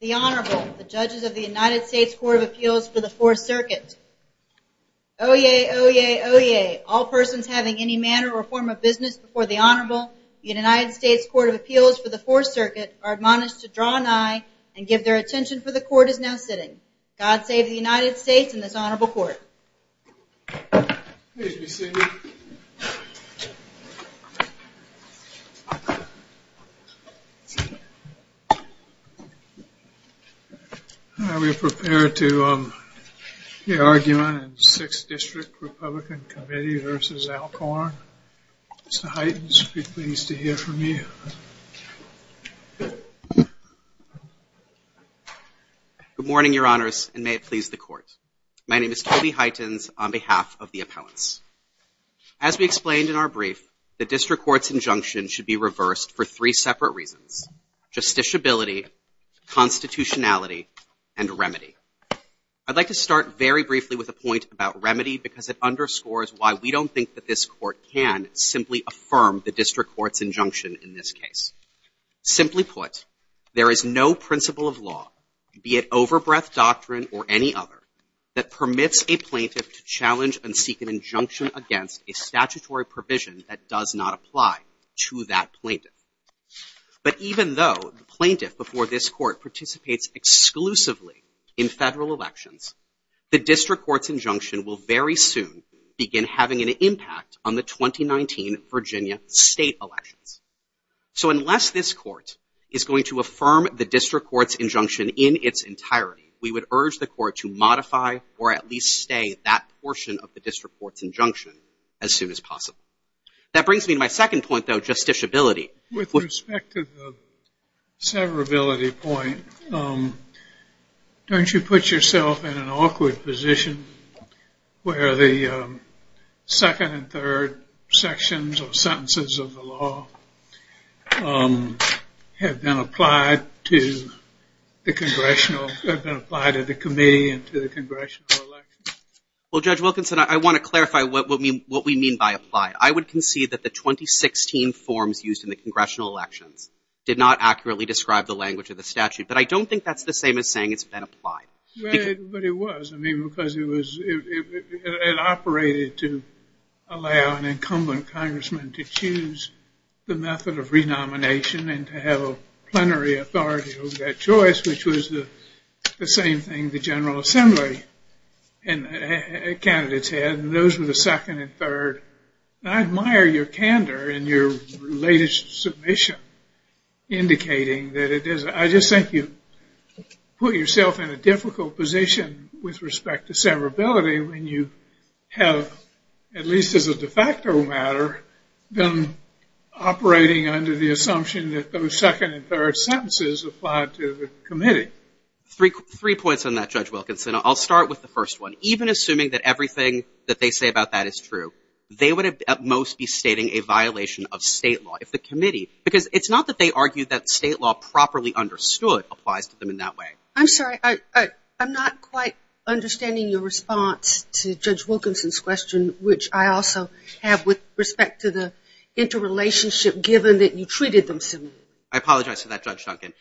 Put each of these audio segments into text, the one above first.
The Honorable, the Judges of the United States Court of Appeals for the 4th Circuit. Oyez! Oyez! Oyez! All persons having any manner or form of business before the Honorable, the United States Court of Appeals for the 4th Circuit, are admonished to draw an eye and give their attention for the Court is now sitting. God save the United States and this Honorable Court. Please be seated. Are we prepared to hear argument in the 6th District Republican Committee v. Alcorn? Mr. Hyten, we'd be pleased to hear from you. Good morning, Your Honors, and may it please the Court. My name is Toby Hytens on behalf of the appellants. As we explained in our brief, the District Court's injunction should be reversed for three separate reasons. Justiciability, constitutionality, and remedy. I'd like to start very briefly with a point about remedy because it underscores why we don't think that this Court can simply affirm the District Court's injunction in this case. Simply put, there is no principle of law, be it overbreadth doctrine or any other, that permits a plaintiff to challenge and seek an injunction against a statutory provision that does not apply to that plaintiff. But even though the plaintiff before this Court participates exclusively in federal elections, the District Court's injunction will very soon begin having an impact on the 2019 Virginia state elections. So unless this Court is going to affirm the District Court's injunction in its entirety, we would urge the Court to modify or at least stay that portion of the District Court's injunction as soon as possible. That brings me to my second point, though, justiciability. With respect to the severability point, don't you put yourself in an awkward position where the second and third sections or sentences of the law have been applied to the congressional, have been applied to the committee and to the congressional elections? Well, Judge Wilkinson, I want to clarify what we mean by apply. I would concede that the 2016 forms used in the congressional elections did not accurately describe the language of the statute. But I don't think that's the same as saying it's been applied. But it was, I mean, because it was, it operated to allow an incumbent congressman to choose the method of renomination and to have a plenary authority over that choice, which was the same thing the General Assembly candidates had. And those were the second and third. And I admire your candor in your latest submission, indicating that it is, I just think you put yourself in a difficult position with respect to severability when you have, at least as a de facto matter, been operating under the assumption that those second and third sentences applied to the committee. Three points on that, Judge Wilkinson. I'll start with the first one. Even assuming that everything that they say about that is true, they would at most be stating a violation of state law, if the committee, because it's not that they argue that state law properly understood applies to them in that way. I'm sorry. I'm not quite understanding your response to Judge Wilkinson's question, which I also have with respect to the interrelationship, given that you treated them similarly. I apologize for that, Judge Duncan.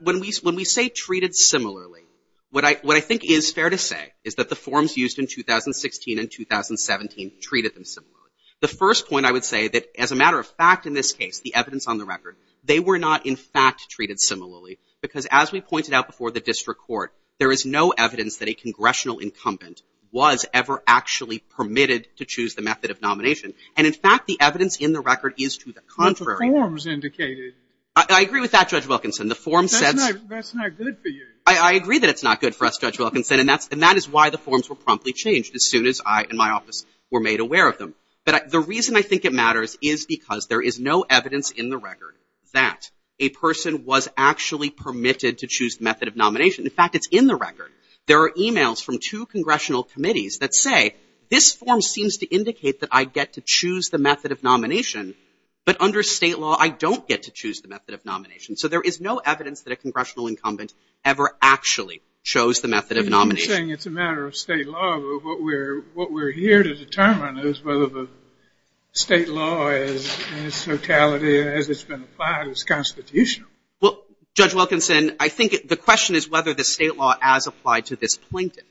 When we say treated similarly, what I think is fair to say is that the forms used in 2016 and 2017 treated them similarly. The first point I would say that, as a matter of fact in this case, the evidence on the record, they were not in fact treated similarly, because as we pointed out before the district court, there is no evidence that a congressional incumbent was ever actually permitted to choose the method of nomination. And, in fact, the evidence in the record is to the contrary. I agree with that, Judge Wilkinson. That's not good for you. I agree that it's not good for us, Judge Wilkinson, and that is why the forms were promptly changed as soon as I and my office were made aware of them. But the reason I think it matters is because there is no evidence in the record that a person was actually permitted to choose the method of nomination. In fact, it's in the record. There are e-mails from two congressional committees that say, this form seems to indicate that I get to choose the method of nomination, but under State law, I don't get to choose the method of nomination. So there is no evidence that a congressional incumbent ever actually chose the method of nomination. You're saying it's a matter of State law, but what we're here to determine is whether the State law, in its totality as it's been applied, is constitutional. Well, Judge Wilkinson, I think the question is whether the State law as applied to this plaintiff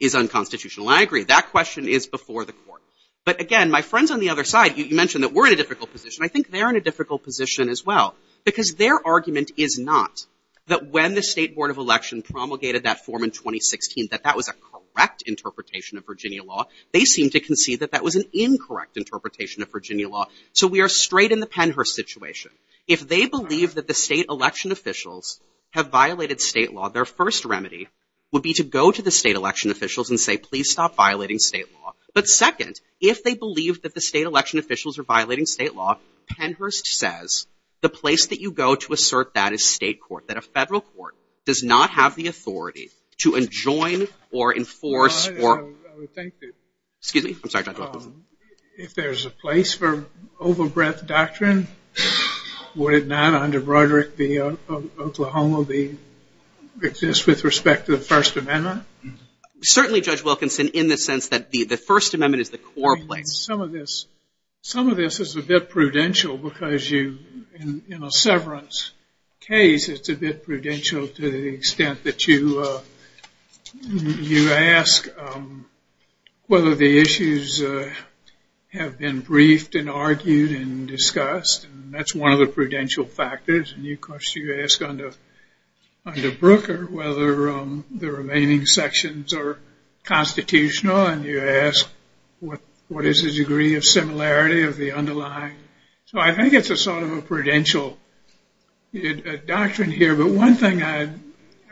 is unconstitutional. And I agree. That question is before the court. But, again, my friends on the other side, you mentioned that we're in a difficult position. I think they're in a difficult position as well. Because their argument is not that when the State Board of Election promulgated that form in 2016, that that was a correct interpretation of Virginia law. They seem to concede that that was an incorrect interpretation of Virginia law. So we are straight in the Pennhurst situation. If they believe that the State election officials have violated State law, their first remedy would be to go to the State election officials and say, please stop violating State law. But, second, if they believe that the State election officials are violating State law, Pennhurst says, the place that you go to assert that is State court, that a Federal court does not have the authority to enjoin or enforce or... I would think that... Excuse me. I'm sorry, Judge Wilkinson. If there's a place for over-breadth doctrine, would it not, under Broderick v. Oklahoma, exist with respect to the First Amendment? Certainly, Judge Wilkinson, in the sense that the First Amendment is the core place. Some of this is a bit prudential because in a severance case, it's a bit prudential to the extent that you ask whether the issues have been briefed and argued and discussed. That's one of the prudential factors. And, of course, you ask under Brooker whether the remaining sections are constitutional and you ask what is the degree of similarity of the underlying. So I think it's a sort of a prudential doctrine here. But one thing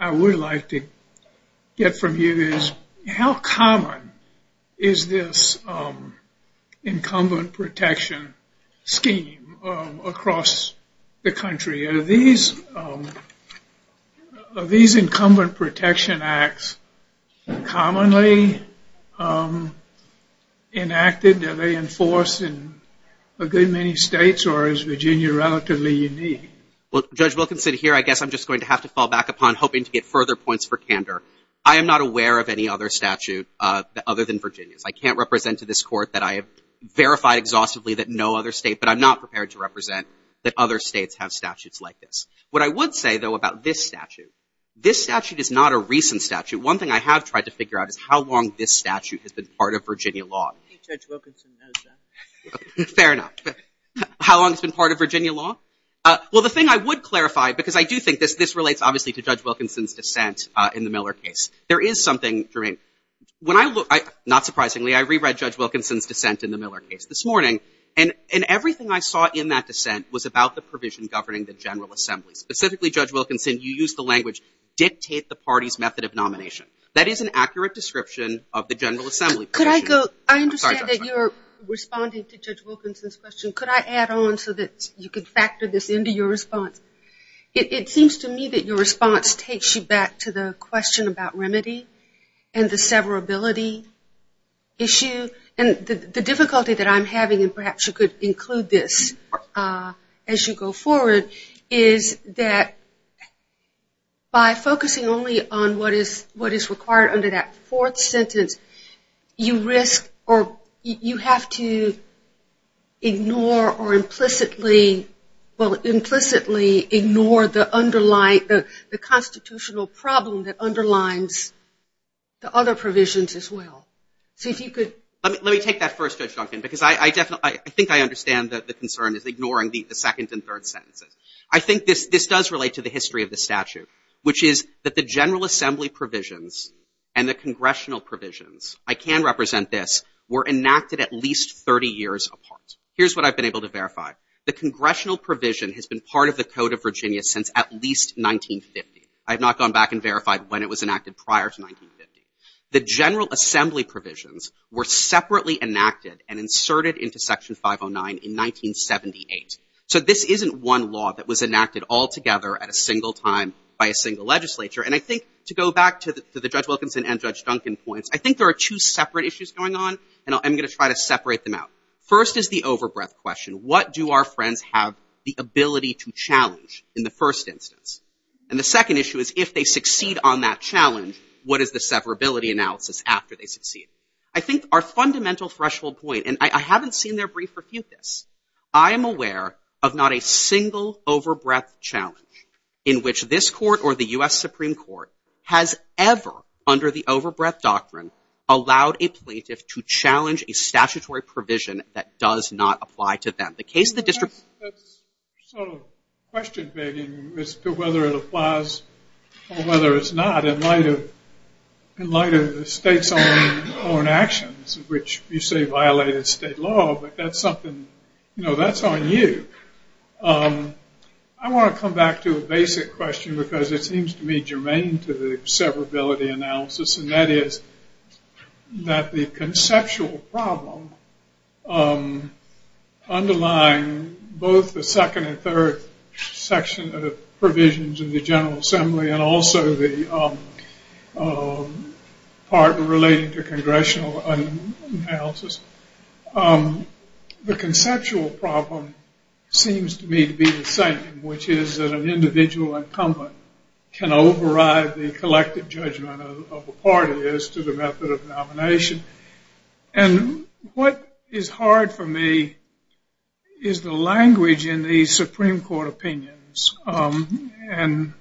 I would like to get from you is how common is this incumbent protection scheme across the country? Are these incumbent protection acts commonly enacted? Are they enforced in a good many states or is Virginia relatively unique? Well, Judge Wilkinson, here, I guess I'm just going to have to fall back upon hoping to get further points for candor. I am not aware of any other statute other than Virginia's. I can't represent to this Court that I have verified exhaustively that no other state, but I'm not prepared to represent that other states have statutes like this. What I would say, though, about this statute, this statute is not a recent statute. One thing I have tried to figure out is how long this statute has been part of Virginia law. Fair enough. How long it's been part of Virginia law? Well, the thing I would clarify, because I do think this relates, obviously, to Judge Wilkinson's dissent in the Miller case. There is something, Jermaine, when I look, not surprisingly, I reread Judge Wilkinson's dissent in the Miller case this morning, and everything I saw in that dissent was about the provision governing the General Assembly. Specifically, Judge Wilkinson, you used the language, dictate the party's method of nomination. That is an accurate description of the General Assembly provision. Could I go? I understand that you're responding to Judge Wilkinson's question. Could I add on so that you could factor this into your response? It seems to me that your response takes you back to the question about remedy and the severability issue. And the difficulty that I'm having, and perhaps you could include this as you go forward, is that by focusing only on what is required under that fourth sentence, you risk or you have to ignore or implicitly, well, implicitly ignore the constitutional problem that underlines the other provisions as well. So if you could. Let me take that first, Judge Duncan, because I think I understand that the concern is ignoring the second and third sentences. I think this does relate to the history of the statute, which is that the General Assembly provisions and the congressional provisions, I can represent this, were enacted at least 30 years apart. Here's what I've been able to verify. The congressional provision has been part of the Code of Virginia since at least 1950. I have not gone back and verified when it was enacted prior to 1950. The General Assembly provisions were separately enacted and inserted into Section 509 in 1978. So this isn't one law that was enacted altogether at a single time by a single legislature. And I think to go back to the Judge Wilkinson and Judge Duncan points, I think there are two separate issues going on, and I'm going to try to separate them out. First is the overbreath question. What do our friends have the ability to challenge in the first instance? And the second issue is if they succeed on that challenge, what is the severability analysis after they succeed? I think our fundamental threshold point, and I haven't seen their brief refute this. I am aware of not a single overbreath challenge in which this court or the U.S. Supreme Court has ever, under the overbreath doctrine, allowed a plaintiff to challenge a statutory provision that does not apply to them. The case of the district. That's sort of question begging as to whether it applies or whether it's not in light of the state's own actions, which you say violated state law, but that's something that's on you. I want to come back to a basic question because it seems to me germane to the severability analysis, and that is that the conceptual problem underlying both the second and third section of the provisions of the General Assembly and also the part relating to the conceptual problem seems to me to be the same, which is that an individual incumbent can override the collective judgment of the party as to the method of nomination. And what is hard for me is the language in the Supreme Court opinions. And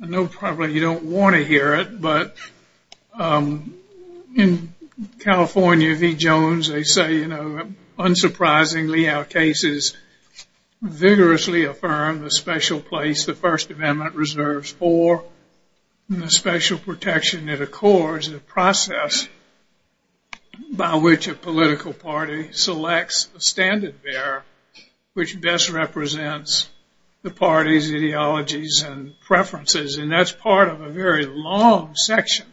I know probably you don't want to hear it, but in California, V. Jones, they say, you know, unsurprisingly our cases vigorously affirm the special place the First Amendment reserves for the special protection that accords the process by which a political party selects a standard bearer, which best represents the party's ideologies and preferences. And that's part of a very long section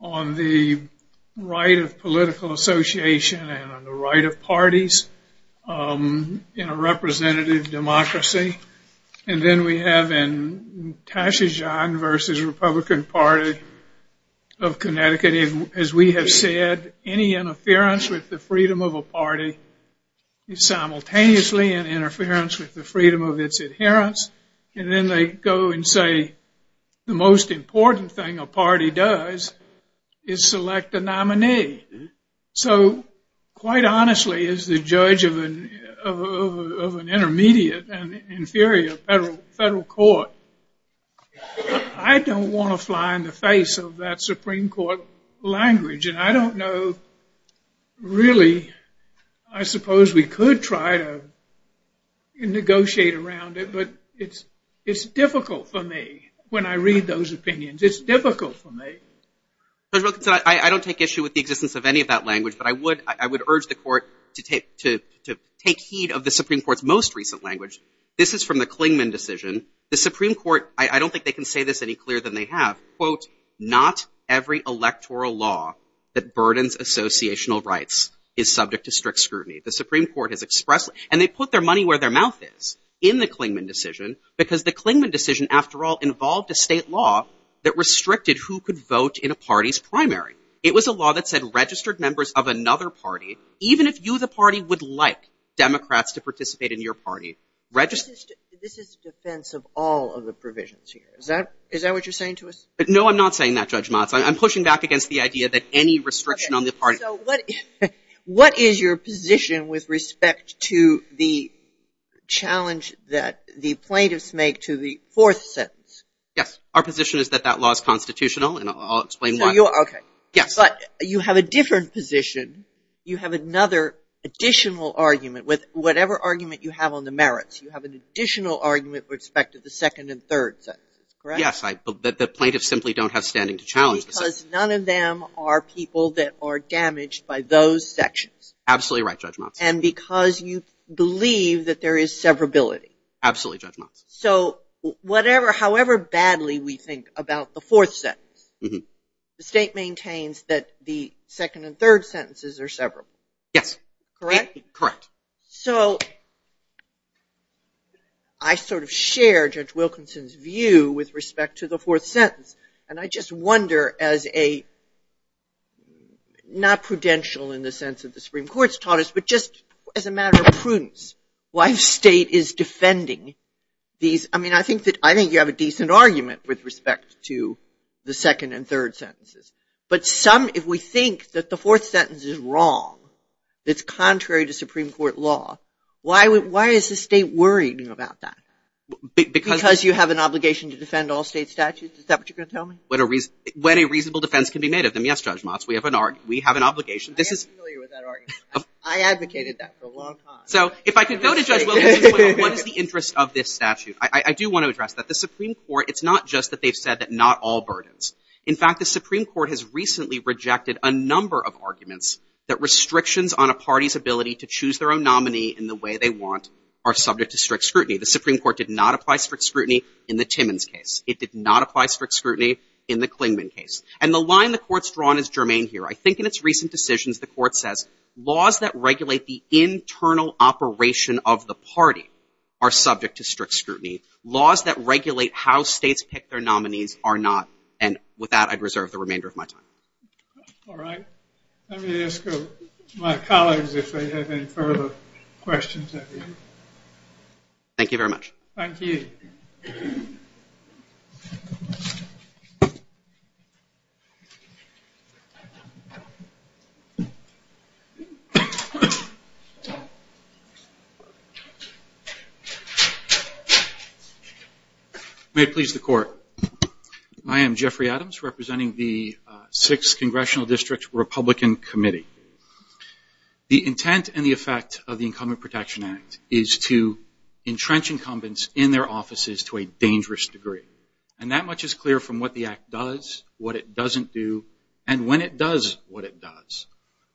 on the right of political association and on the right of parties in a representative democracy. And then we have in Tashajohn v. Republican Party of Connecticut, as we have said, any interference with the freedom of a party is simultaneously an interference with the freedom of its adherence. And then they go and say the most important thing a party does is select a nominee. So quite honestly, as the judge of an intermediate and inferior federal court, I don't want to fly in the face of that Supreme Court language. And I don't know really, I suppose we could try to negotiate around it, but it's difficult for me when I read those opinions. It's difficult for me. Judge Wilkinson, I don't take issue with the existence of any of that language, but I would urge the court to take heed of the Supreme Court's most recent language. This is from the Clingman decision. The Supreme Court, I don't think they can say this any clearer than they have. Quote, not every electoral law that burdens associational rights is subject to strict scrutiny. The Supreme Court has expressed, and they put their money where their mouth is, in the Clingman decision because the Clingman decision, after all, involved a state law that restricted who could vote in a party's primary. It was a law that said registered members of another party, even if you the party would like Democrats to participate in your party. This is defense of all of the provisions here. Is that what you're saying to us? No, I'm not saying that, Judge Motz. I'm pushing back against the idea that any restriction on the party. So what is your position with respect to the challenge that the plaintiffs make to the fourth sentence? Yes. Our position is that that law is constitutional, and I'll explain why. So you're, okay. Yes. But you have a different position. You have another additional argument with whatever argument you have on the merits. You have an additional argument with respect to the second and third sentences, correct? Yes. The plaintiffs simply don't have standing to challenge the second. Because none of them are people that are damaged by those sections. Absolutely right, Judge Motz. And because you believe that there is severability. Absolutely, Judge Motz. So however badly we think about the fourth sentence, the state maintains that the second and third sentences are severable. Yes. Correct? Correct. So I sort of share Judge Wilkinson's view with respect to the fourth sentence, and I just wonder as a, not prudential in the sense that the Supreme Court's taught us, but just as a matter of prudence, why the state is defending these. I mean, I think you have a decent argument with respect to the second and third sentences. But some, if we think that the fourth sentence is wrong, that's contrary to Supreme Court law, why is the state worrying about that? Because you have an obligation to defend all state statutes? Is that what you're going to tell me? When a reasonable defense can be made of them. Yes, Judge Motz, we have an obligation. I am familiar with that argument. I advocated that for a long time. So if I could go to Judge Wilkinson's point on what is the interest of this statute, I do want to address that. The Supreme Court, it's not just that they've said that not all burdens. In fact, the Supreme Court has recently rejected a number of arguments that restrictions on a party's ability to choose their own nominee in the way they want are subject to strict scrutiny. The Supreme Court did not apply strict scrutiny in the Timmons case. It did not apply strict scrutiny in the Klingman case. And the line the Court's drawn is germane here. I think in its recent decisions, the Court says, laws that regulate the internal operation of the party are subject to strict scrutiny. Laws that regulate how states pick their nominees are not. And with that, I'd reserve the remainder of my time. All right. Let me ask my colleagues if they have any further questions. Thank you very much. Thank you. May it please the Court. I am Jeffrey Adams representing the 6th Congressional District Republican Committee. The intent and the effect of the Incumbent Protection Act is to entrench incumbents in their offices to a dangerous degree. And that much is clear from what the Act does, what it doesn't do, and when it does what it does.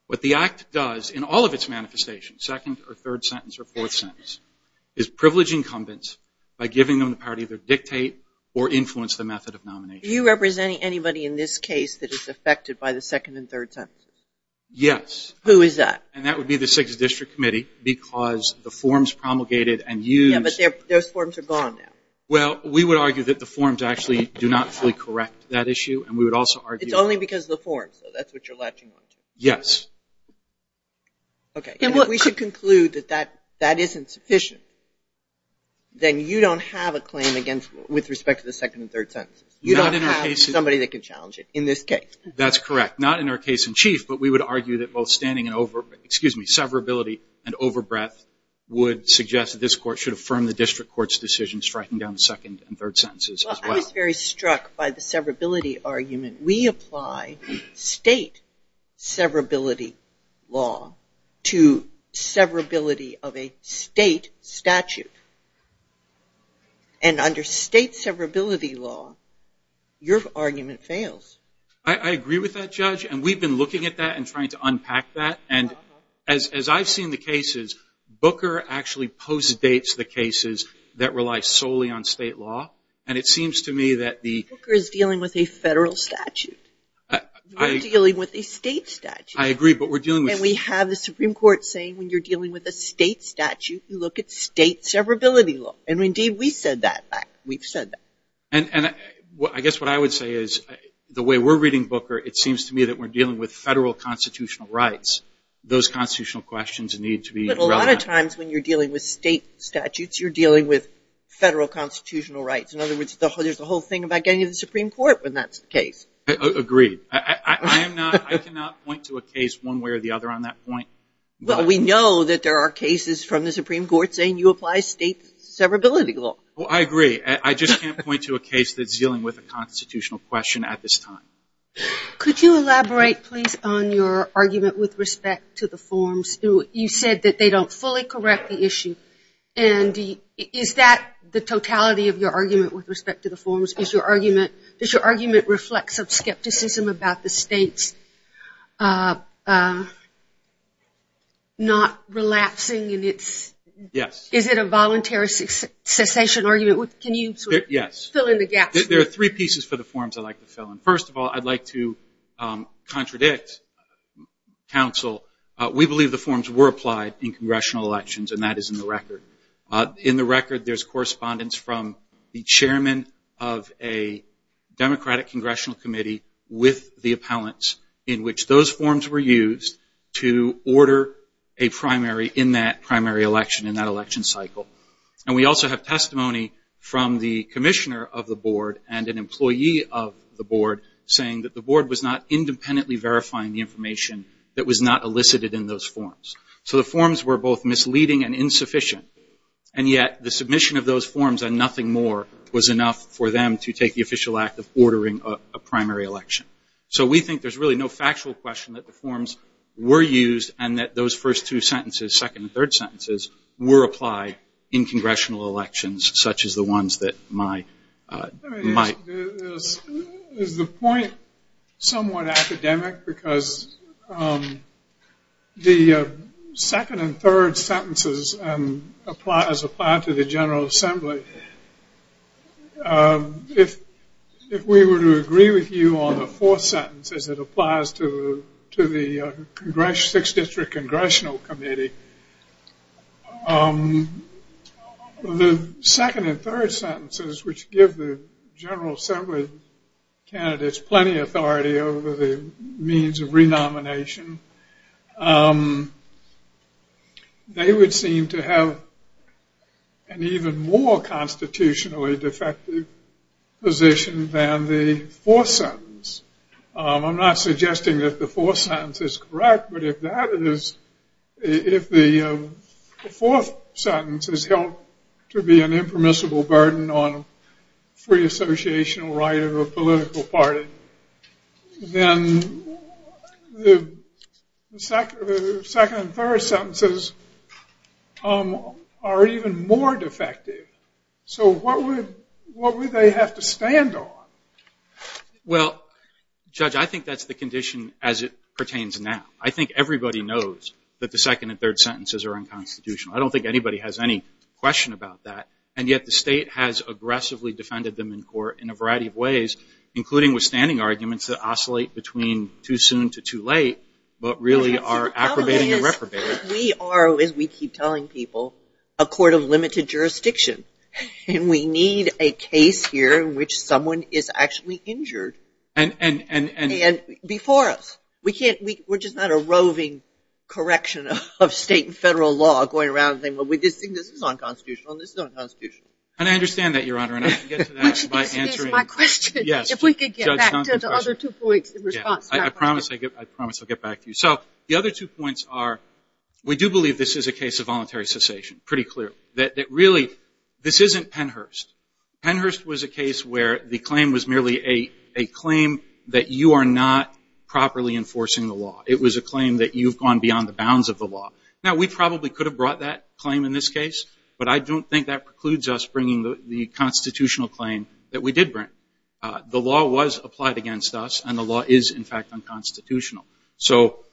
What the Act does in all of its manifestations, second or third sentence or fourth sentence, is privilege incumbents by giving them the power to either dictate or influence the method of nomination. Are you representing anybody in this case that is affected by the second and third sentences? Yes. Who is that? And that would be the 6th District Committee because the forms promulgated and used. Yeah, but those forms are gone now. Well, we would argue that the forms actually do not fully correct that issue, and we would also argue that. It's only because of the forms, so that's what you're latching on to. Yes. Okay. If we should conclude that that isn't sufficient, then you don't have a claim with respect to the second and third sentences. You don't have somebody that can challenge it in this case. That's correct. Not in our case in chief, but we would argue that both severability and overbreadth would suggest that this Court should affirm the District Court's decision striking down the second and third sentences as well. Well, I was very struck by the severability argument. We apply state severability law to severability of a state statute. And under state severability law, your argument fails. I agree with that, Judge, and we've been looking at that and trying to unpack that. And as I've seen the cases, Booker actually postdates the cases that rely solely on state law. And it seems to me that the – Booker is dealing with a federal statute. We're dealing with a state statute. I agree, but we're dealing with – And we have the Supreme Court saying when you're dealing with a state statute, you look at state severability law. And, indeed, we said that back. We've said that. And I guess what I would say is the way we're reading Booker, it seems to me that we're dealing with federal constitutional rights. Those constitutional questions need to be relevant. But a lot of times when you're dealing with state statutes, you're dealing with federal constitutional rights. In other words, there's a whole thing about getting to the Supreme Court when that's the case. Agreed. I am not – I cannot point to a case one way or the other on that point. Well, we know that there are cases from the Supreme Court saying you apply state severability law. Well, I agree. I just can't point to a case that's dealing with a constitutional question at this time. Could you elaborate, please, on your argument with respect to the forms? You said that they don't fully correct the issue. And is that the totality of your argument with respect to the forms? Does your argument reflect some skepticism about the states not relapsing? Yes. Is it a voluntary cessation argument? Can you sort of fill in the gaps? There are three pieces for the forms I'd like to fill in. First of all, I'd like to contradict counsel. We believe the forms were applied in congressional elections, and that is in the record. In the record, there's correspondence from the chairman of a Democratic congressional committee with the appellants in which those forms were used to order a primary in that primary election, in that election cycle. And we also have testimony from the commissioner of the board and an employee of the board saying that the board was not independently verifying the information that was not elicited in those forms. So the forms were both misleading and insufficient. And yet the submission of those forms and nothing more was enough for them to take the official act of ordering a primary election. So we think there's really no factual question that the forms were used and that those first two sentences, second and third sentences, were applied in congressional elections such as the ones that my... Is the point somewhat academic because the second and third sentences as applied to the General Assembly, if we were to agree with you on the fourth sentence as it applies to the six-district congressional committee, the second and third sentences, which give the General Assembly candidates plenty of authority over the means of renomination, they would seem to have an even more constitutionally defective position than the fourth sentence. I'm not suggesting that the fourth sentence is correct, but if the fourth sentence is held to be an impermissible burden on free associational right of a political party, then the second and third sentences are even more defective. So what would they have to stand on? Well, Judge, I think that's the condition as it pertains now. I think everybody knows that the second and third sentences are unconstitutional. I don't think anybody has any question about that, and yet the state has aggressively defended them in court in a variety of ways, including withstanding arguments that oscillate between too soon to too late, but really are aggravating and reprobating. We are, as we keep telling people, a court of limited jurisdiction, and we need a case here in which someone is actually injured before us. We're just not a roving correction of state and federal law going around saying, well, we just think this is unconstitutional, and this is unconstitutional. And I understand that, Your Honor, and I can get to that by answering. This is my question. Yes. If we could get back to the other two points in response to that question. I promise I'll get back to you. So the other two points are we do believe this is a case of voluntary cessation, pretty clear, that really this isn't Pennhurst. Pennhurst was a case where the claim was merely a claim that you are not properly enforcing the law. It was a claim that you've gone beyond the bounds of the law. Now, we probably could have brought that claim in this case, but I don't think that precludes us bringing the constitutional claim that we did bring. The law was applied against us, and the law is, in fact, unconstitutional. So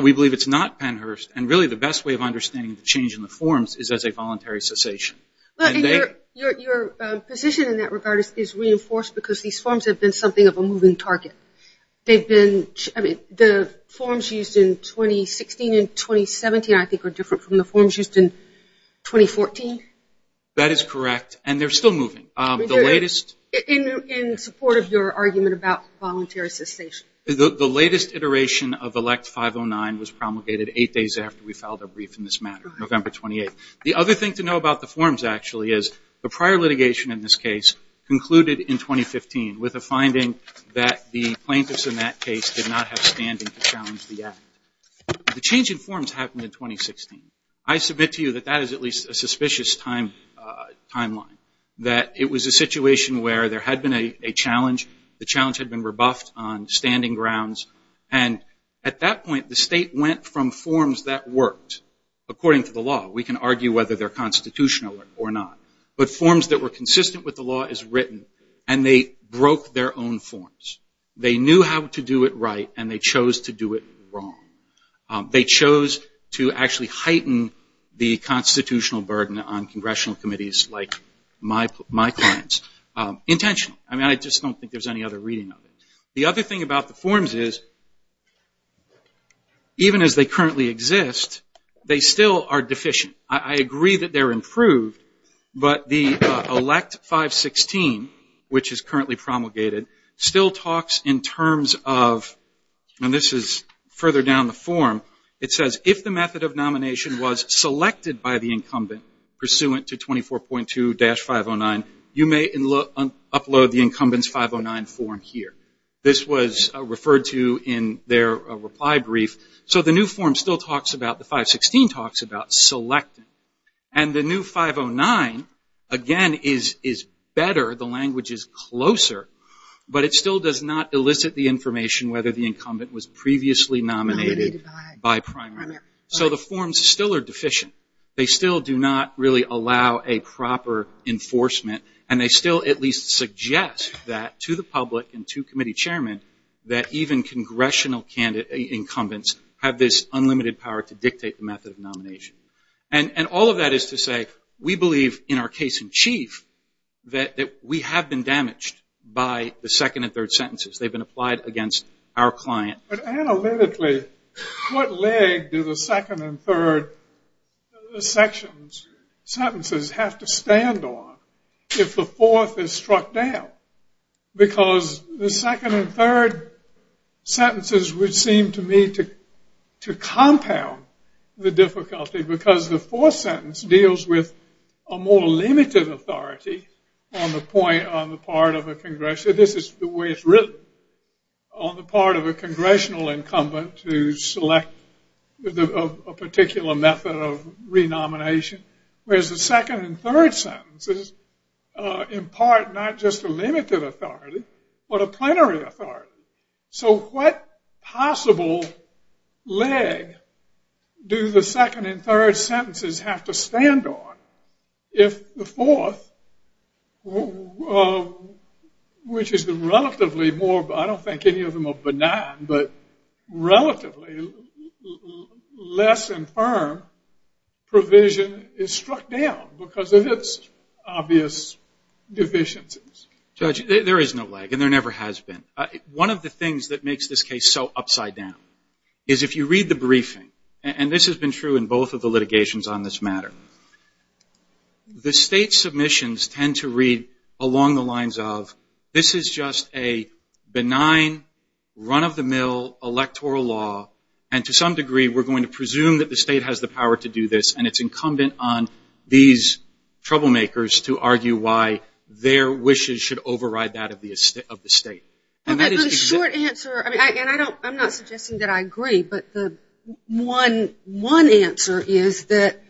we believe it's not Pennhurst, and really the best way of understanding the change in the forms is as a voluntary cessation. Your position in that regard is reinforced because these forms have been something of a moving target. The forms used in 2016 and 2017, I think, are different from the forms used in 2014. That is correct, and they're still moving. In support of your argument about voluntary cessation. The latest iteration of Elect 509 was promulgated eight days after we filed our brief in this matter, November 28th. The other thing to know about the forms, actually, is the prior litigation in this case concluded in 2015 with a finding that the plaintiffs in that case did not have standing to challenge the act. The change in forms happened in 2016. I submit to you that that is at least a suspicious timeline, that it was a situation where there had been a challenge. The challenge had been rebuffed on standing grounds, and at that point the state went from forms that worked according to the law. We can argue whether they're constitutional or not. But forms that were consistent with the law as written, and they broke their own forms. They knew how to do it right, and they chose to do it wrong. They chose to actually heighten the constitutional burden on congressional committees like my clients. Intentional. I mean, I just don't think there's any other reading of it. The other thing about the forms is, even as they currently exist, they still are deficient. I agree that they're improved, but the elect 516, which is currently promulgated, still talks in terms of, and this is further down the form, it says, if the method of nomination was selected by the incumbent pursuant to 24.2-509, you may upload the incumbent's 509 form here. This was referred to in their reply brief. So the new form still talks about, the 516 talks about selecting. And the new 509, again, is better, the language is closer, but it still does not elicit the information whether the incumbent was previously nominated by primary. So the forms still are deficient. They still do not really allow a proper enforcement, and they still at least suggest that to the public and to committee chairmen, that even congressional incumbents have this unlimited power to dictate the method of nomination. And all of that is to say, we believe, in our case in chief, that we have been damaged by the second and third sentences. They've been applied against our client. But analytically, what leg do the second and third sections, sentences, have to stand on if the fourth is struck down? Because the second and third sentences would seem to me to compound the difficulty because the fourth sentence deals with a more limited authority on the point, this is the way it's written, on the part of a congressional incumbent to select a particular method of renomination, whereas the second and third sentences impart not just a limited authority, but a plenary authority. So what possible leg do the second and third sentences have to stand on if the fourth, which is the relatively more, I don't think any of them are benign, but relatively less infirm provision is struck down because of its obvious deficiencies? Judge, there is no leg, and there never has been. One of the things that makes this case so upside down is if you read the briefing, and this has been true in both of the litigations on this matter, the state submissions tend to read along the lines of, this is just a benign, run-of-the-mill electoral law, and to some degree we're going to presume that the state has the power to do this, and it's incumbent on these troublemakers to argue why their wishes should override that of the state. The short answer, and I'm not suggesting that I agree, but the one answer is that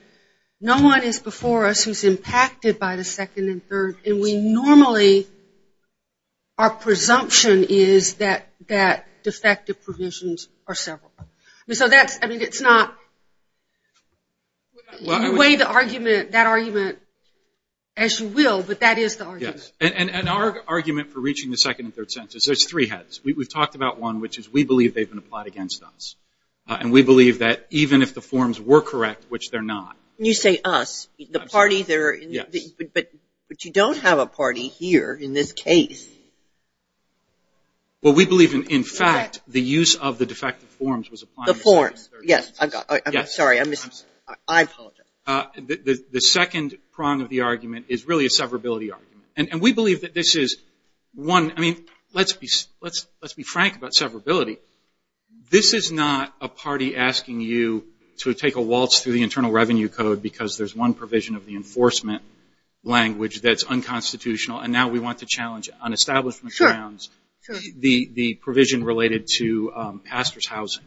no one is before us who is impacted by the second and third, and we normally, our presumption is that defective provisions are several. So that's, I mean, it's not, you weigh that argument as you will, but that is the argument. And our argument for reaching the second and third sentences, there's three heads. We've talked about one, which is we believe they've been applied against us, and we believe that even if the forms were correct, which they're not. When you say us, the party there, but you don't have a party here in this case. Well, we believe, in fact, the use of the defective forms was applied. The forms, yes. I'm sorry. I apologize. The second prong of the argument is really a severability argument. And we believe that this is one, I mean, let's be frank about severability. This is not a party asking you to take a waltz through the Internal Revenue Code because there's one provision of the enforcement language that's unconstitutional, and now we want to challenge it on establishment grounds, the provision related to pastors' housing.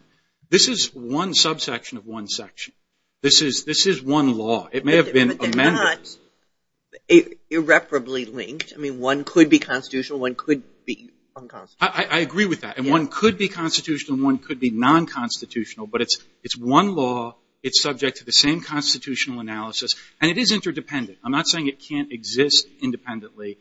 This is one subsection of one section. This is one law. It may have been amended. But they're not irreparably linked. I mean, one could be constitutional, one could be unconstitutional. I agree with that. And one could be constitutional and one could be non-constitutional, but it's one law. It's subject to the same constitutional analysis. And it is interdependent. I'm not saying it can't exist independently,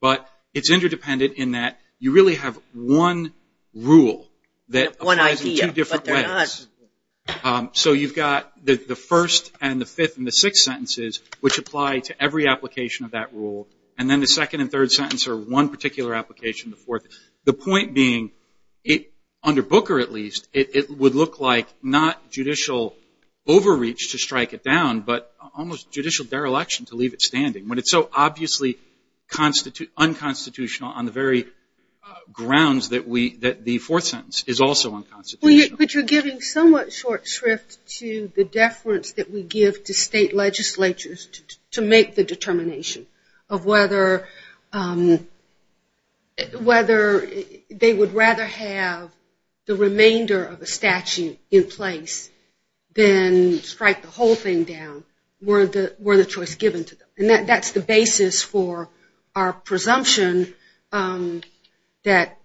but it's interdependent in that you really have one rule that applies in two different ways. So you've got the first and the fifth and the sixth sentences, which apply to every application of that rule, and then the second and third sentence are one particular application, the fourth. The point being, under Booker at least, it would look like not judicial overreach to strike it down, but almost judicial dereliction to leave it standing, when it's so obviously unconstitutional on the very grounds that the fourth sentence is also unconstitutional. But you're giving somewhat short shrift to the deference that we give to state legislatures to make the determination of whether they would rather have the remainder of a statute in place than strike the whole thing down were the choice given to them. And that's the basis for our presumption that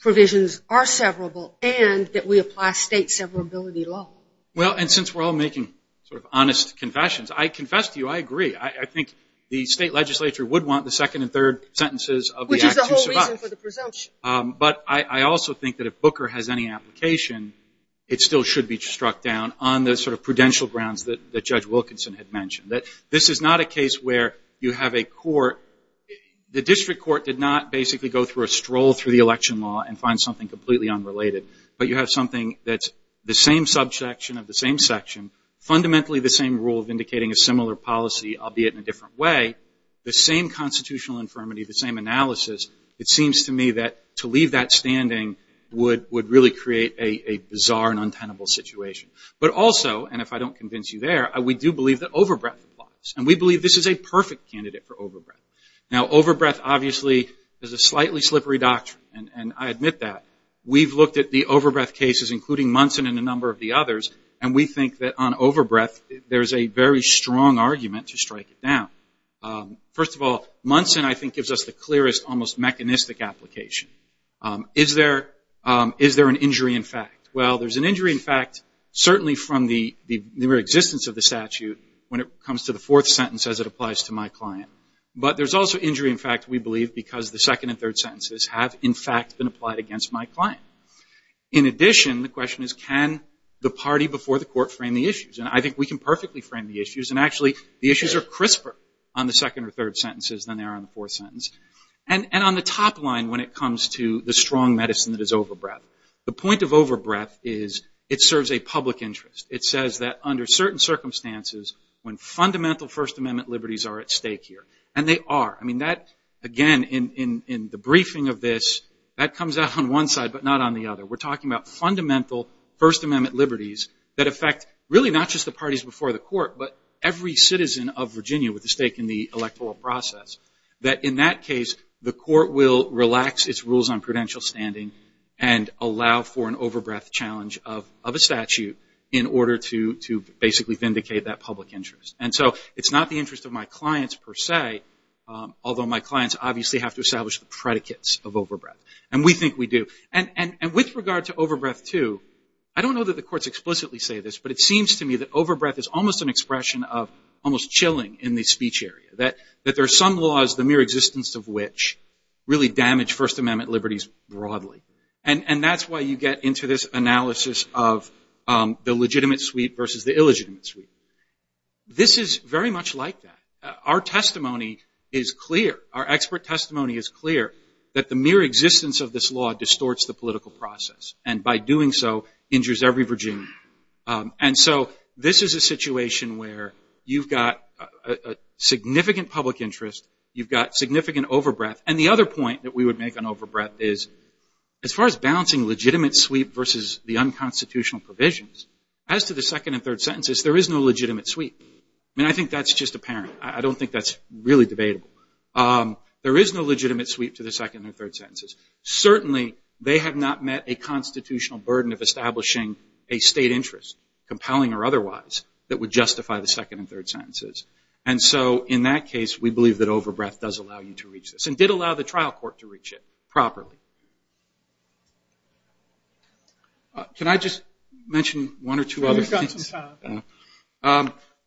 provisions are severable and that we apply state severability law. Well, and since we're all making sort of honest confessions, I confess to you, I agree. I think the state legislature would want the second and third sentences of the act to survive. Which is the whole reason for the presumption. But I also think that if Booker has any application, it still should be struck down on the sort of prudential grounds that Judge Wilkinson had mentioned, that this is not a case where you have a court. The district court did not basically go through a stroll through the election law and find something completely unrelated. But you have something that's the same subsection of the same section, fundamentally the same rule of indicating a similar policy, albeit in a different way, the same constitutional infirmity, the same analysis. It seems to me that to leave that standing would really create a bizarre and untenable situation. But also, and if I don't convince you there, we do believe that overbreath applies. And we believe this is a perfect candidate for overbreath. Now, overbreath obviously is a slightly slippery doctrine. And I admit that. We've looked at the overbreath cases, including Munson and a number of the others, and we think that on overbreath there's a very strong argument to strike it down. First of all, Munson I think gives us the clearest almost mechanistic application. Is there an injury in fact? Well, there's an injury in fact certainly from the mere existence of the statute when it comes to the fourth sentence as it applies to my client. But there's also injury in fact we believe because the second and third sentences have in fact been applied against my client. In addition, the question is can the party before the court frame the issues? And I think we can perfectly frame the issues. And actually the issues are crisper on the second or third sentences than they are on the fourth sentence. And on the top line when it comes to the strong medicine that is overbreath, the point of overbreath is it serves a public interest. It says that under certain circumstances, when fundamental First Amendment liberties are at stake here. And they are. I mean that again in the briefing of this, that comes out on one side but not on the other. We're talking about fundamental First Amendment liberties that affect really not just the parties before the court, but every citizen of Virginia with a stake in the electoral process. That in that case the court will relax its rules on credential standing and allow for an overbreath challenge of a statute in order to basically vindicate that public interest. And so it's not the interest of my clients per se, although my clients obviously have to establish the predicates of overbreath. And we think we do. And with regard to overbreath too, I don't know that the courts explicitly say this, but it seems to me that overbreath is almost an expression of almost chilling in the speech area. That there are some laws, the mere existence of which, really damage First Amendment liberties broadly. And that's why you get into this analysis of the legitimate suite versus the illegitimate suite. This is very much like that. Our testimony is clear, our expert testimony is clear, that the mere existence of this law distorts the political process and by doing so injures every Virginian. And so this is a situation where you've got a significant public interest, you've got significant overbreath, and the other point that we would make on overbreath is, as far as balancing legitimate suite versus the unconstitutional provisions, as to the second and third sentences, there is no legitimate suite. I mean, I think that's just apparent. I don't think that's really debatable. There is no legitimate suite to the second and third sentences. Certainly they have not met a constitutional burden of establishing a state interest, compelling or otherwise, that would justify the second and third sentences. And so in that case, we believe that overbreath does allow you to reach this. And did allow the trial court to reach it properly. Can I just mention one or two other things? You've got some time.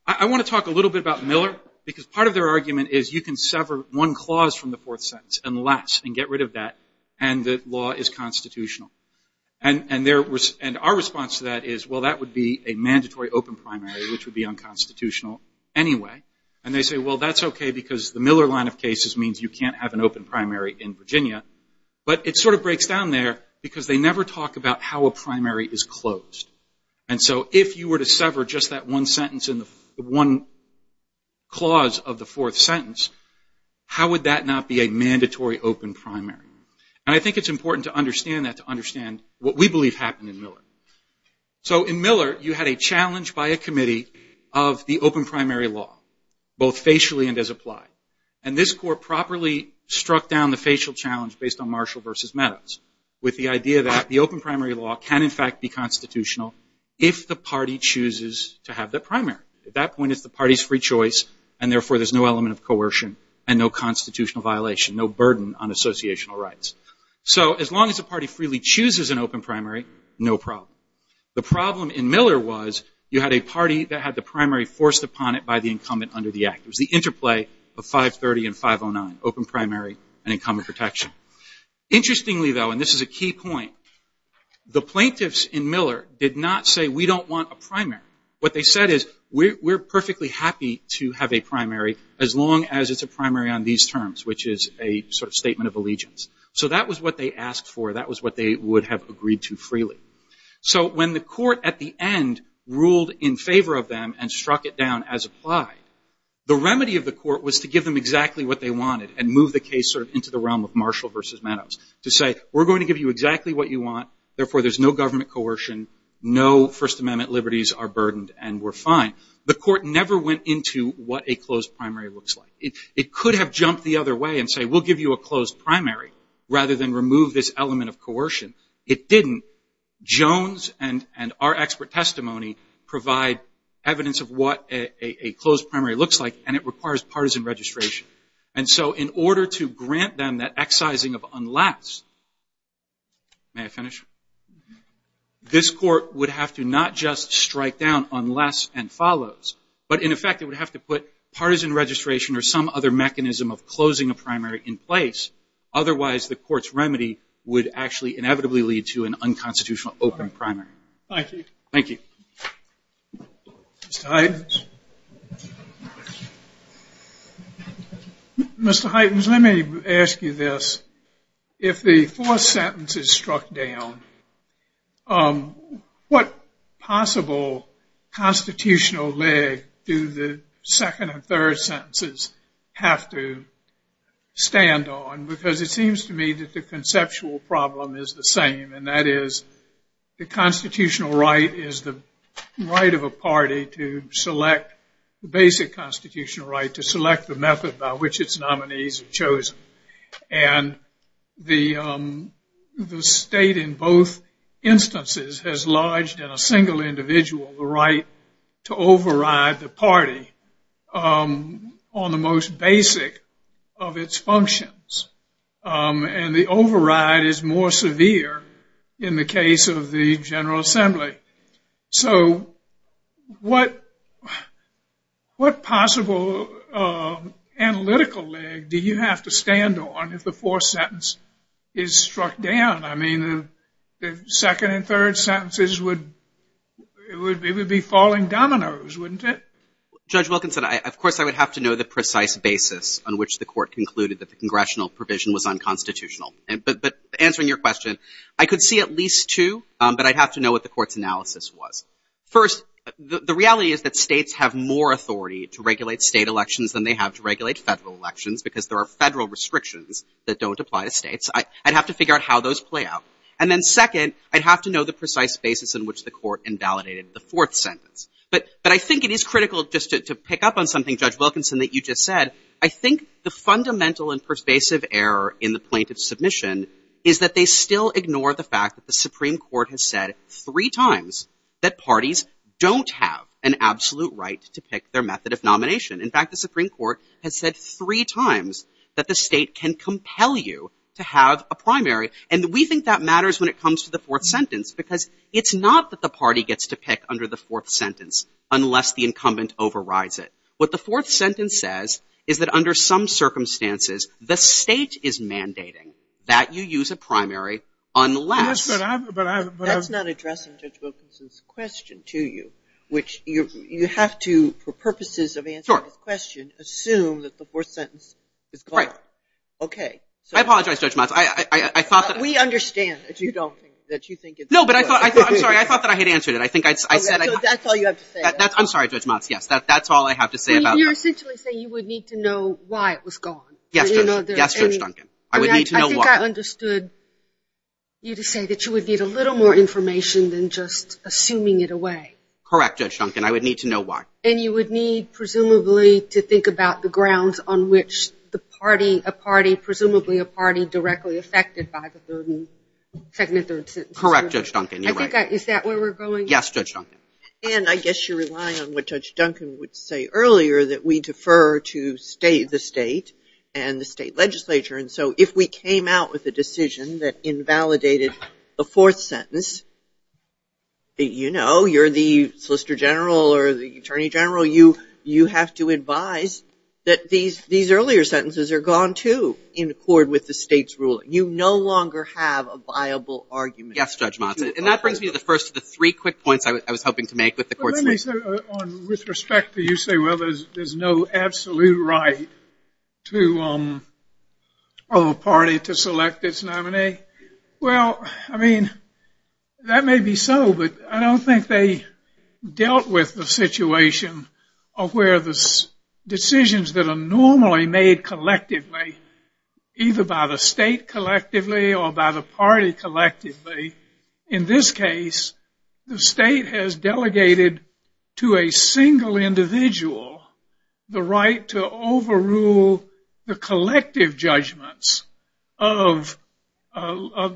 I want to talk a little bit about Miller, because part of their argument is you can sever one clause from the fourth sentence and less and get rid of that, and the law is constitutional. And our response to that is, well, that would be a mandatory open primary, which would be unconstitutional anyway. And they say, well, that's okay, because the Miller line of cases means you can't have an open primary in Virginia. But it sort of breaks down there, because they never talk about how a primary is closed. And so if you were to sever just that one sentence in the one clause of the fourth sentence, how would that not be a mandatory open primary? And I think it's important to understand that, to understand what we believe happened in Miller. So in Miller, you had a challenge by a committee of the open primary law, both facially and as applied. And this court properly struck down the facial challenge, based on Marshall versus Meadows, with the idea that the open primary law can, in fact, be constitutional if the party chooses to have the primary. At that point, it's the party's free choice, and therefore there's no element of coercion and no constitutional violation, no burden on associational rights. So as long as the party freely chooses an open primary, no problem. The problem in Miller was you had a party that had the primary forced upon it by the incumbent under the Act. It was the interplay of 530 and 509, open primary and incumbent protection. Interestingly, though, and this is a key point, the plaintiffs in Miller did not say, we don't want a primary. What they said is, we're perfectly happy to have a primary as long as it's a primary on these terms, which is a sort of statement of allegiance. So that was what they asked for. That was what they would have agreed to freely. So when the court at the end ruled in favor of them and struck it down as applied, the remedy of the court was to give them exactly what they wanted and move the case sort of into the realm of Marshall versus Meadows to say, we're going to give you exactly what you want, therefore there's no government coercion, no First Amendment liberties are burdened, and we're fine. The court never went into what a closed primary looks like. It could have jumped the other way and said, we'll give you a closed primary rather than remove this element of coercion. It didn't. Jones and our expert testimony provide evidence of what a closed primary looks like, and it requires partisan registration. And so in order to grant them that excising of unless, may I finish? This court would have to not just strike down unless and follows, but in effect it would have to put partisan registration or some other mechanism of closing a primary in place, otherwise the court's remedy would actually inevitably lead to an unconstitutional open primary. Thank you. Thank you. Mr. Hytens. Mr. Hytens, let me ask you this. If the fourth sentence is struck down, what possible constitutional leg do the second and third sentences have to stand on? Because it seems to me that the conceptual problem is the same, and that is the constitutional right is the right of a party to select the basic constitutional right to select the method by which its nominees are chosen. And the state in both instances has lodged in a single individual the right to override the party on the most basic of its functions. And the override is more severe in the case of the General Assembly. So what possible analytical leg do you have to stand on if the fourth sentence is struck down? I mean, the second and third sentences would be falling dominoes, wouldn't it? Judge Wilkinson, of course, I would have to know the precise basis on which the court concluded that the congressional provision was unconstitutional. But answering your question, I could see at least two, but I'd have to know what the court's analysis was. First, the reality is that states have more authority to regulate state elections than they have to regulate federal elections because there are federal restrictions that don't apply to states. I'd have to figure out how those play out. And then second, I'd have to know the precise basis in which the court invalidated the fourth sentence. But I think it is critical just to pick up on something, Judge Wilkinson, that you just said. I think the fundamental and persuasive error in the plaintiff's submission is that they still ignore the fact that the Supreme Court has said three times that parties don't have an absolute right to pick their method of nomination. In fact, the Supreme Court has said three times that the state can compel you to have a primary. And we think that matters when it comes to the fourth sentence because it's not that the party gets to pick under the fourth sentence unless the incumbent overrides it. What the fourth sentence says is that under some circumstances, the state is mandating that you use a primary unless. That's not addressing Judge Wilkinson's question to you, which you have to, for purposes of answering his question, assume that the fourth sentence is correct. Okay. I apologize, Judge Motz. I thought that. We understand that you don't think. No, but I thought. I'm sorry. I thought that I had answered it. I think I said. That's all you have to say. I'm sorry, Judge Motz. Yes. That's all I have to say about. You're essentially saying you would need to know why it was gone. Yes, Judge Duncan. I would need to know why. I think I understood you to say that you would need a little more information than just assuming it away. Correct, Judge Duncan. I would need to know why. And you would need, presumably, to think about the grounds on which a party, presumably a party, directly affected by the second and third sentences. Correct, Judge Duncan. You're right. Is that where we're going? Yes, Judge Duncan. And I guess you're relying on what Judge Duncan would say earlier, that we defer to the state and the state legislature. And so if we came out with a decision that invalidated the fourth sentence, you know, you're the Solicitor General or the Attorney General. You have to advise that these earlier sentences are gone, too, in accord with the state's ruling. You no longer have a viable argument. Yes, Judge Motz. And that brings me to the first of the three quick points I was hoping to make with the court's list. With respect to you say, well, there's no absolute right to a party to select its nominee. Well, I mean, that may be so, but I don't think they dealt with the situation of where the decisions that are normally made collectively, either by the state collectively or by the party collectively. In this case, the state has delegated to a single individual the right to nominate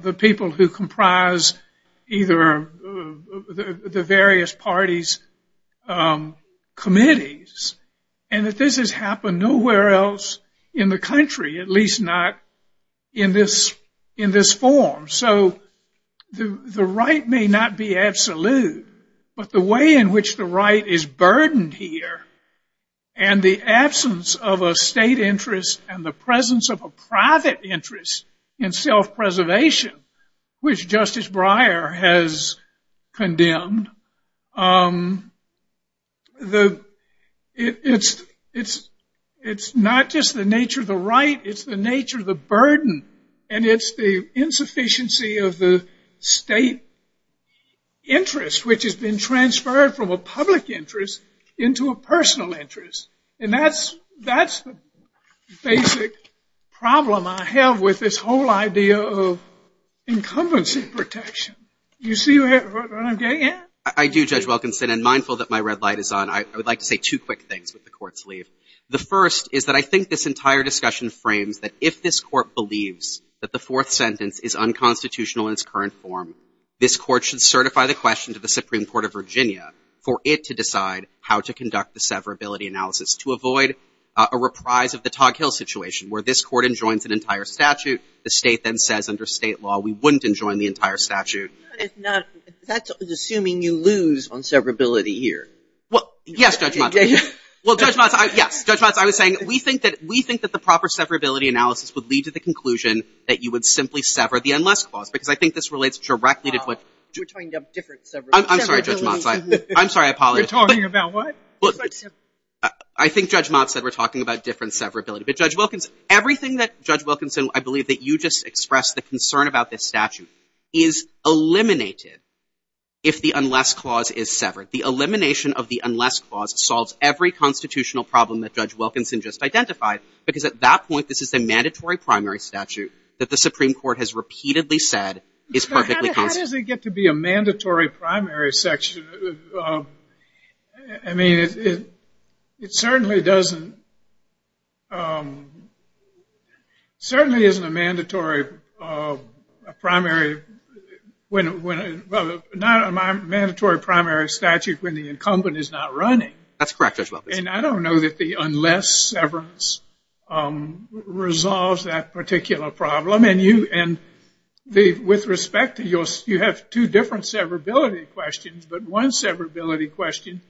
the people who comprise either the various parties' committees. And that this has happened nowhere else in the country, at least not in this form. So the right may not be absolute, but the way in which the right is burdened here and the absence of a state interest and the presence of a private interest in self-preservation, which Justice Breyer has condemned, it's not just the nature of the right, it's the nature of the burden, and it's the insufficiency of the state interest, which has been transferred from a public interest into a personal interest. And that's the basic problem I have with this whole idea of incumbency protection. You see what I'm getting at? I do, Judge Wilkinson, and mindful that my red light is on, I would like to say two quick things with the court's leave. The first is that I think this entire discussion frames that if this court believes that the fourth sentence is unconstitutional in its current form, this court should certify the question to the Supreme Court of Virginia for it to decide how to conduct the severability analysis to avoid a reprise of the Tog Hill situation where this court enjoins an entire statute, the state then says under state law we wouldn't enjoin the entire statute. But if not, that's assuming you lose on severability here. Well, yes, Judge Motz. Well, Judge Motz, yes. Judge Motz, I was saying we think that the proper severability analysis would lead to the conclusion that you would simply sever the unless clause, because I think this relates directly to what... We're talking about different severabilities. I'm sorry, Judge Motz. I'm sorry, I apologize. We're talking about what? I think Judge Motz said we're talking about different severability. But Judge Wilkinson, everything that Judge Wilkinson, I believe that you just expressed the concern about this statute, is eliminated if the unless clause is severed. The elimination of the unless clause solves every constitutional problem that Judge Wilkinson just identified, because at that point this is a mandatory primary statute that the Supreme Court has repeatedly said is perfectly constitutional. How does it get to be a mandatory primary section? I mean, it certainly doesn't – certainly isn't a mandatory primary when – well, not a mandatory primary statute when the incumbent is not running. That's correct, Judge Wilkinson. And I don't know that the unless severance resolves that particular problem. And with respect to your – you have two different severability questions, but one severability question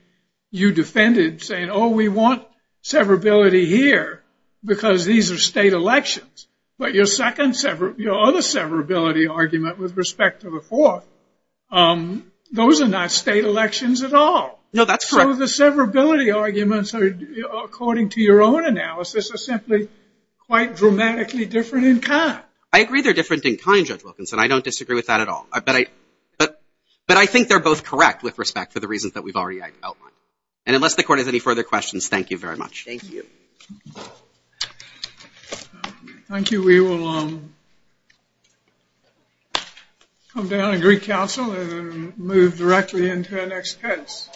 you defended saying, oh, we want severability here because these are state elections. But your other severability argument with respect to the fourth, those are not state elections at all. No, that's correct. So the severability arguments, according to your own analysis, are simply quite dramatically different in kind. I agree they're different in kind, Judge Wilkinson. I don't disagree with that at all. But I think they're both correct with respect to the reasons that we've already outlined. And unless the Court has any further questions, thank you very much. Thank you. Thank you. We will come down and greet counsel and move directly into our next case.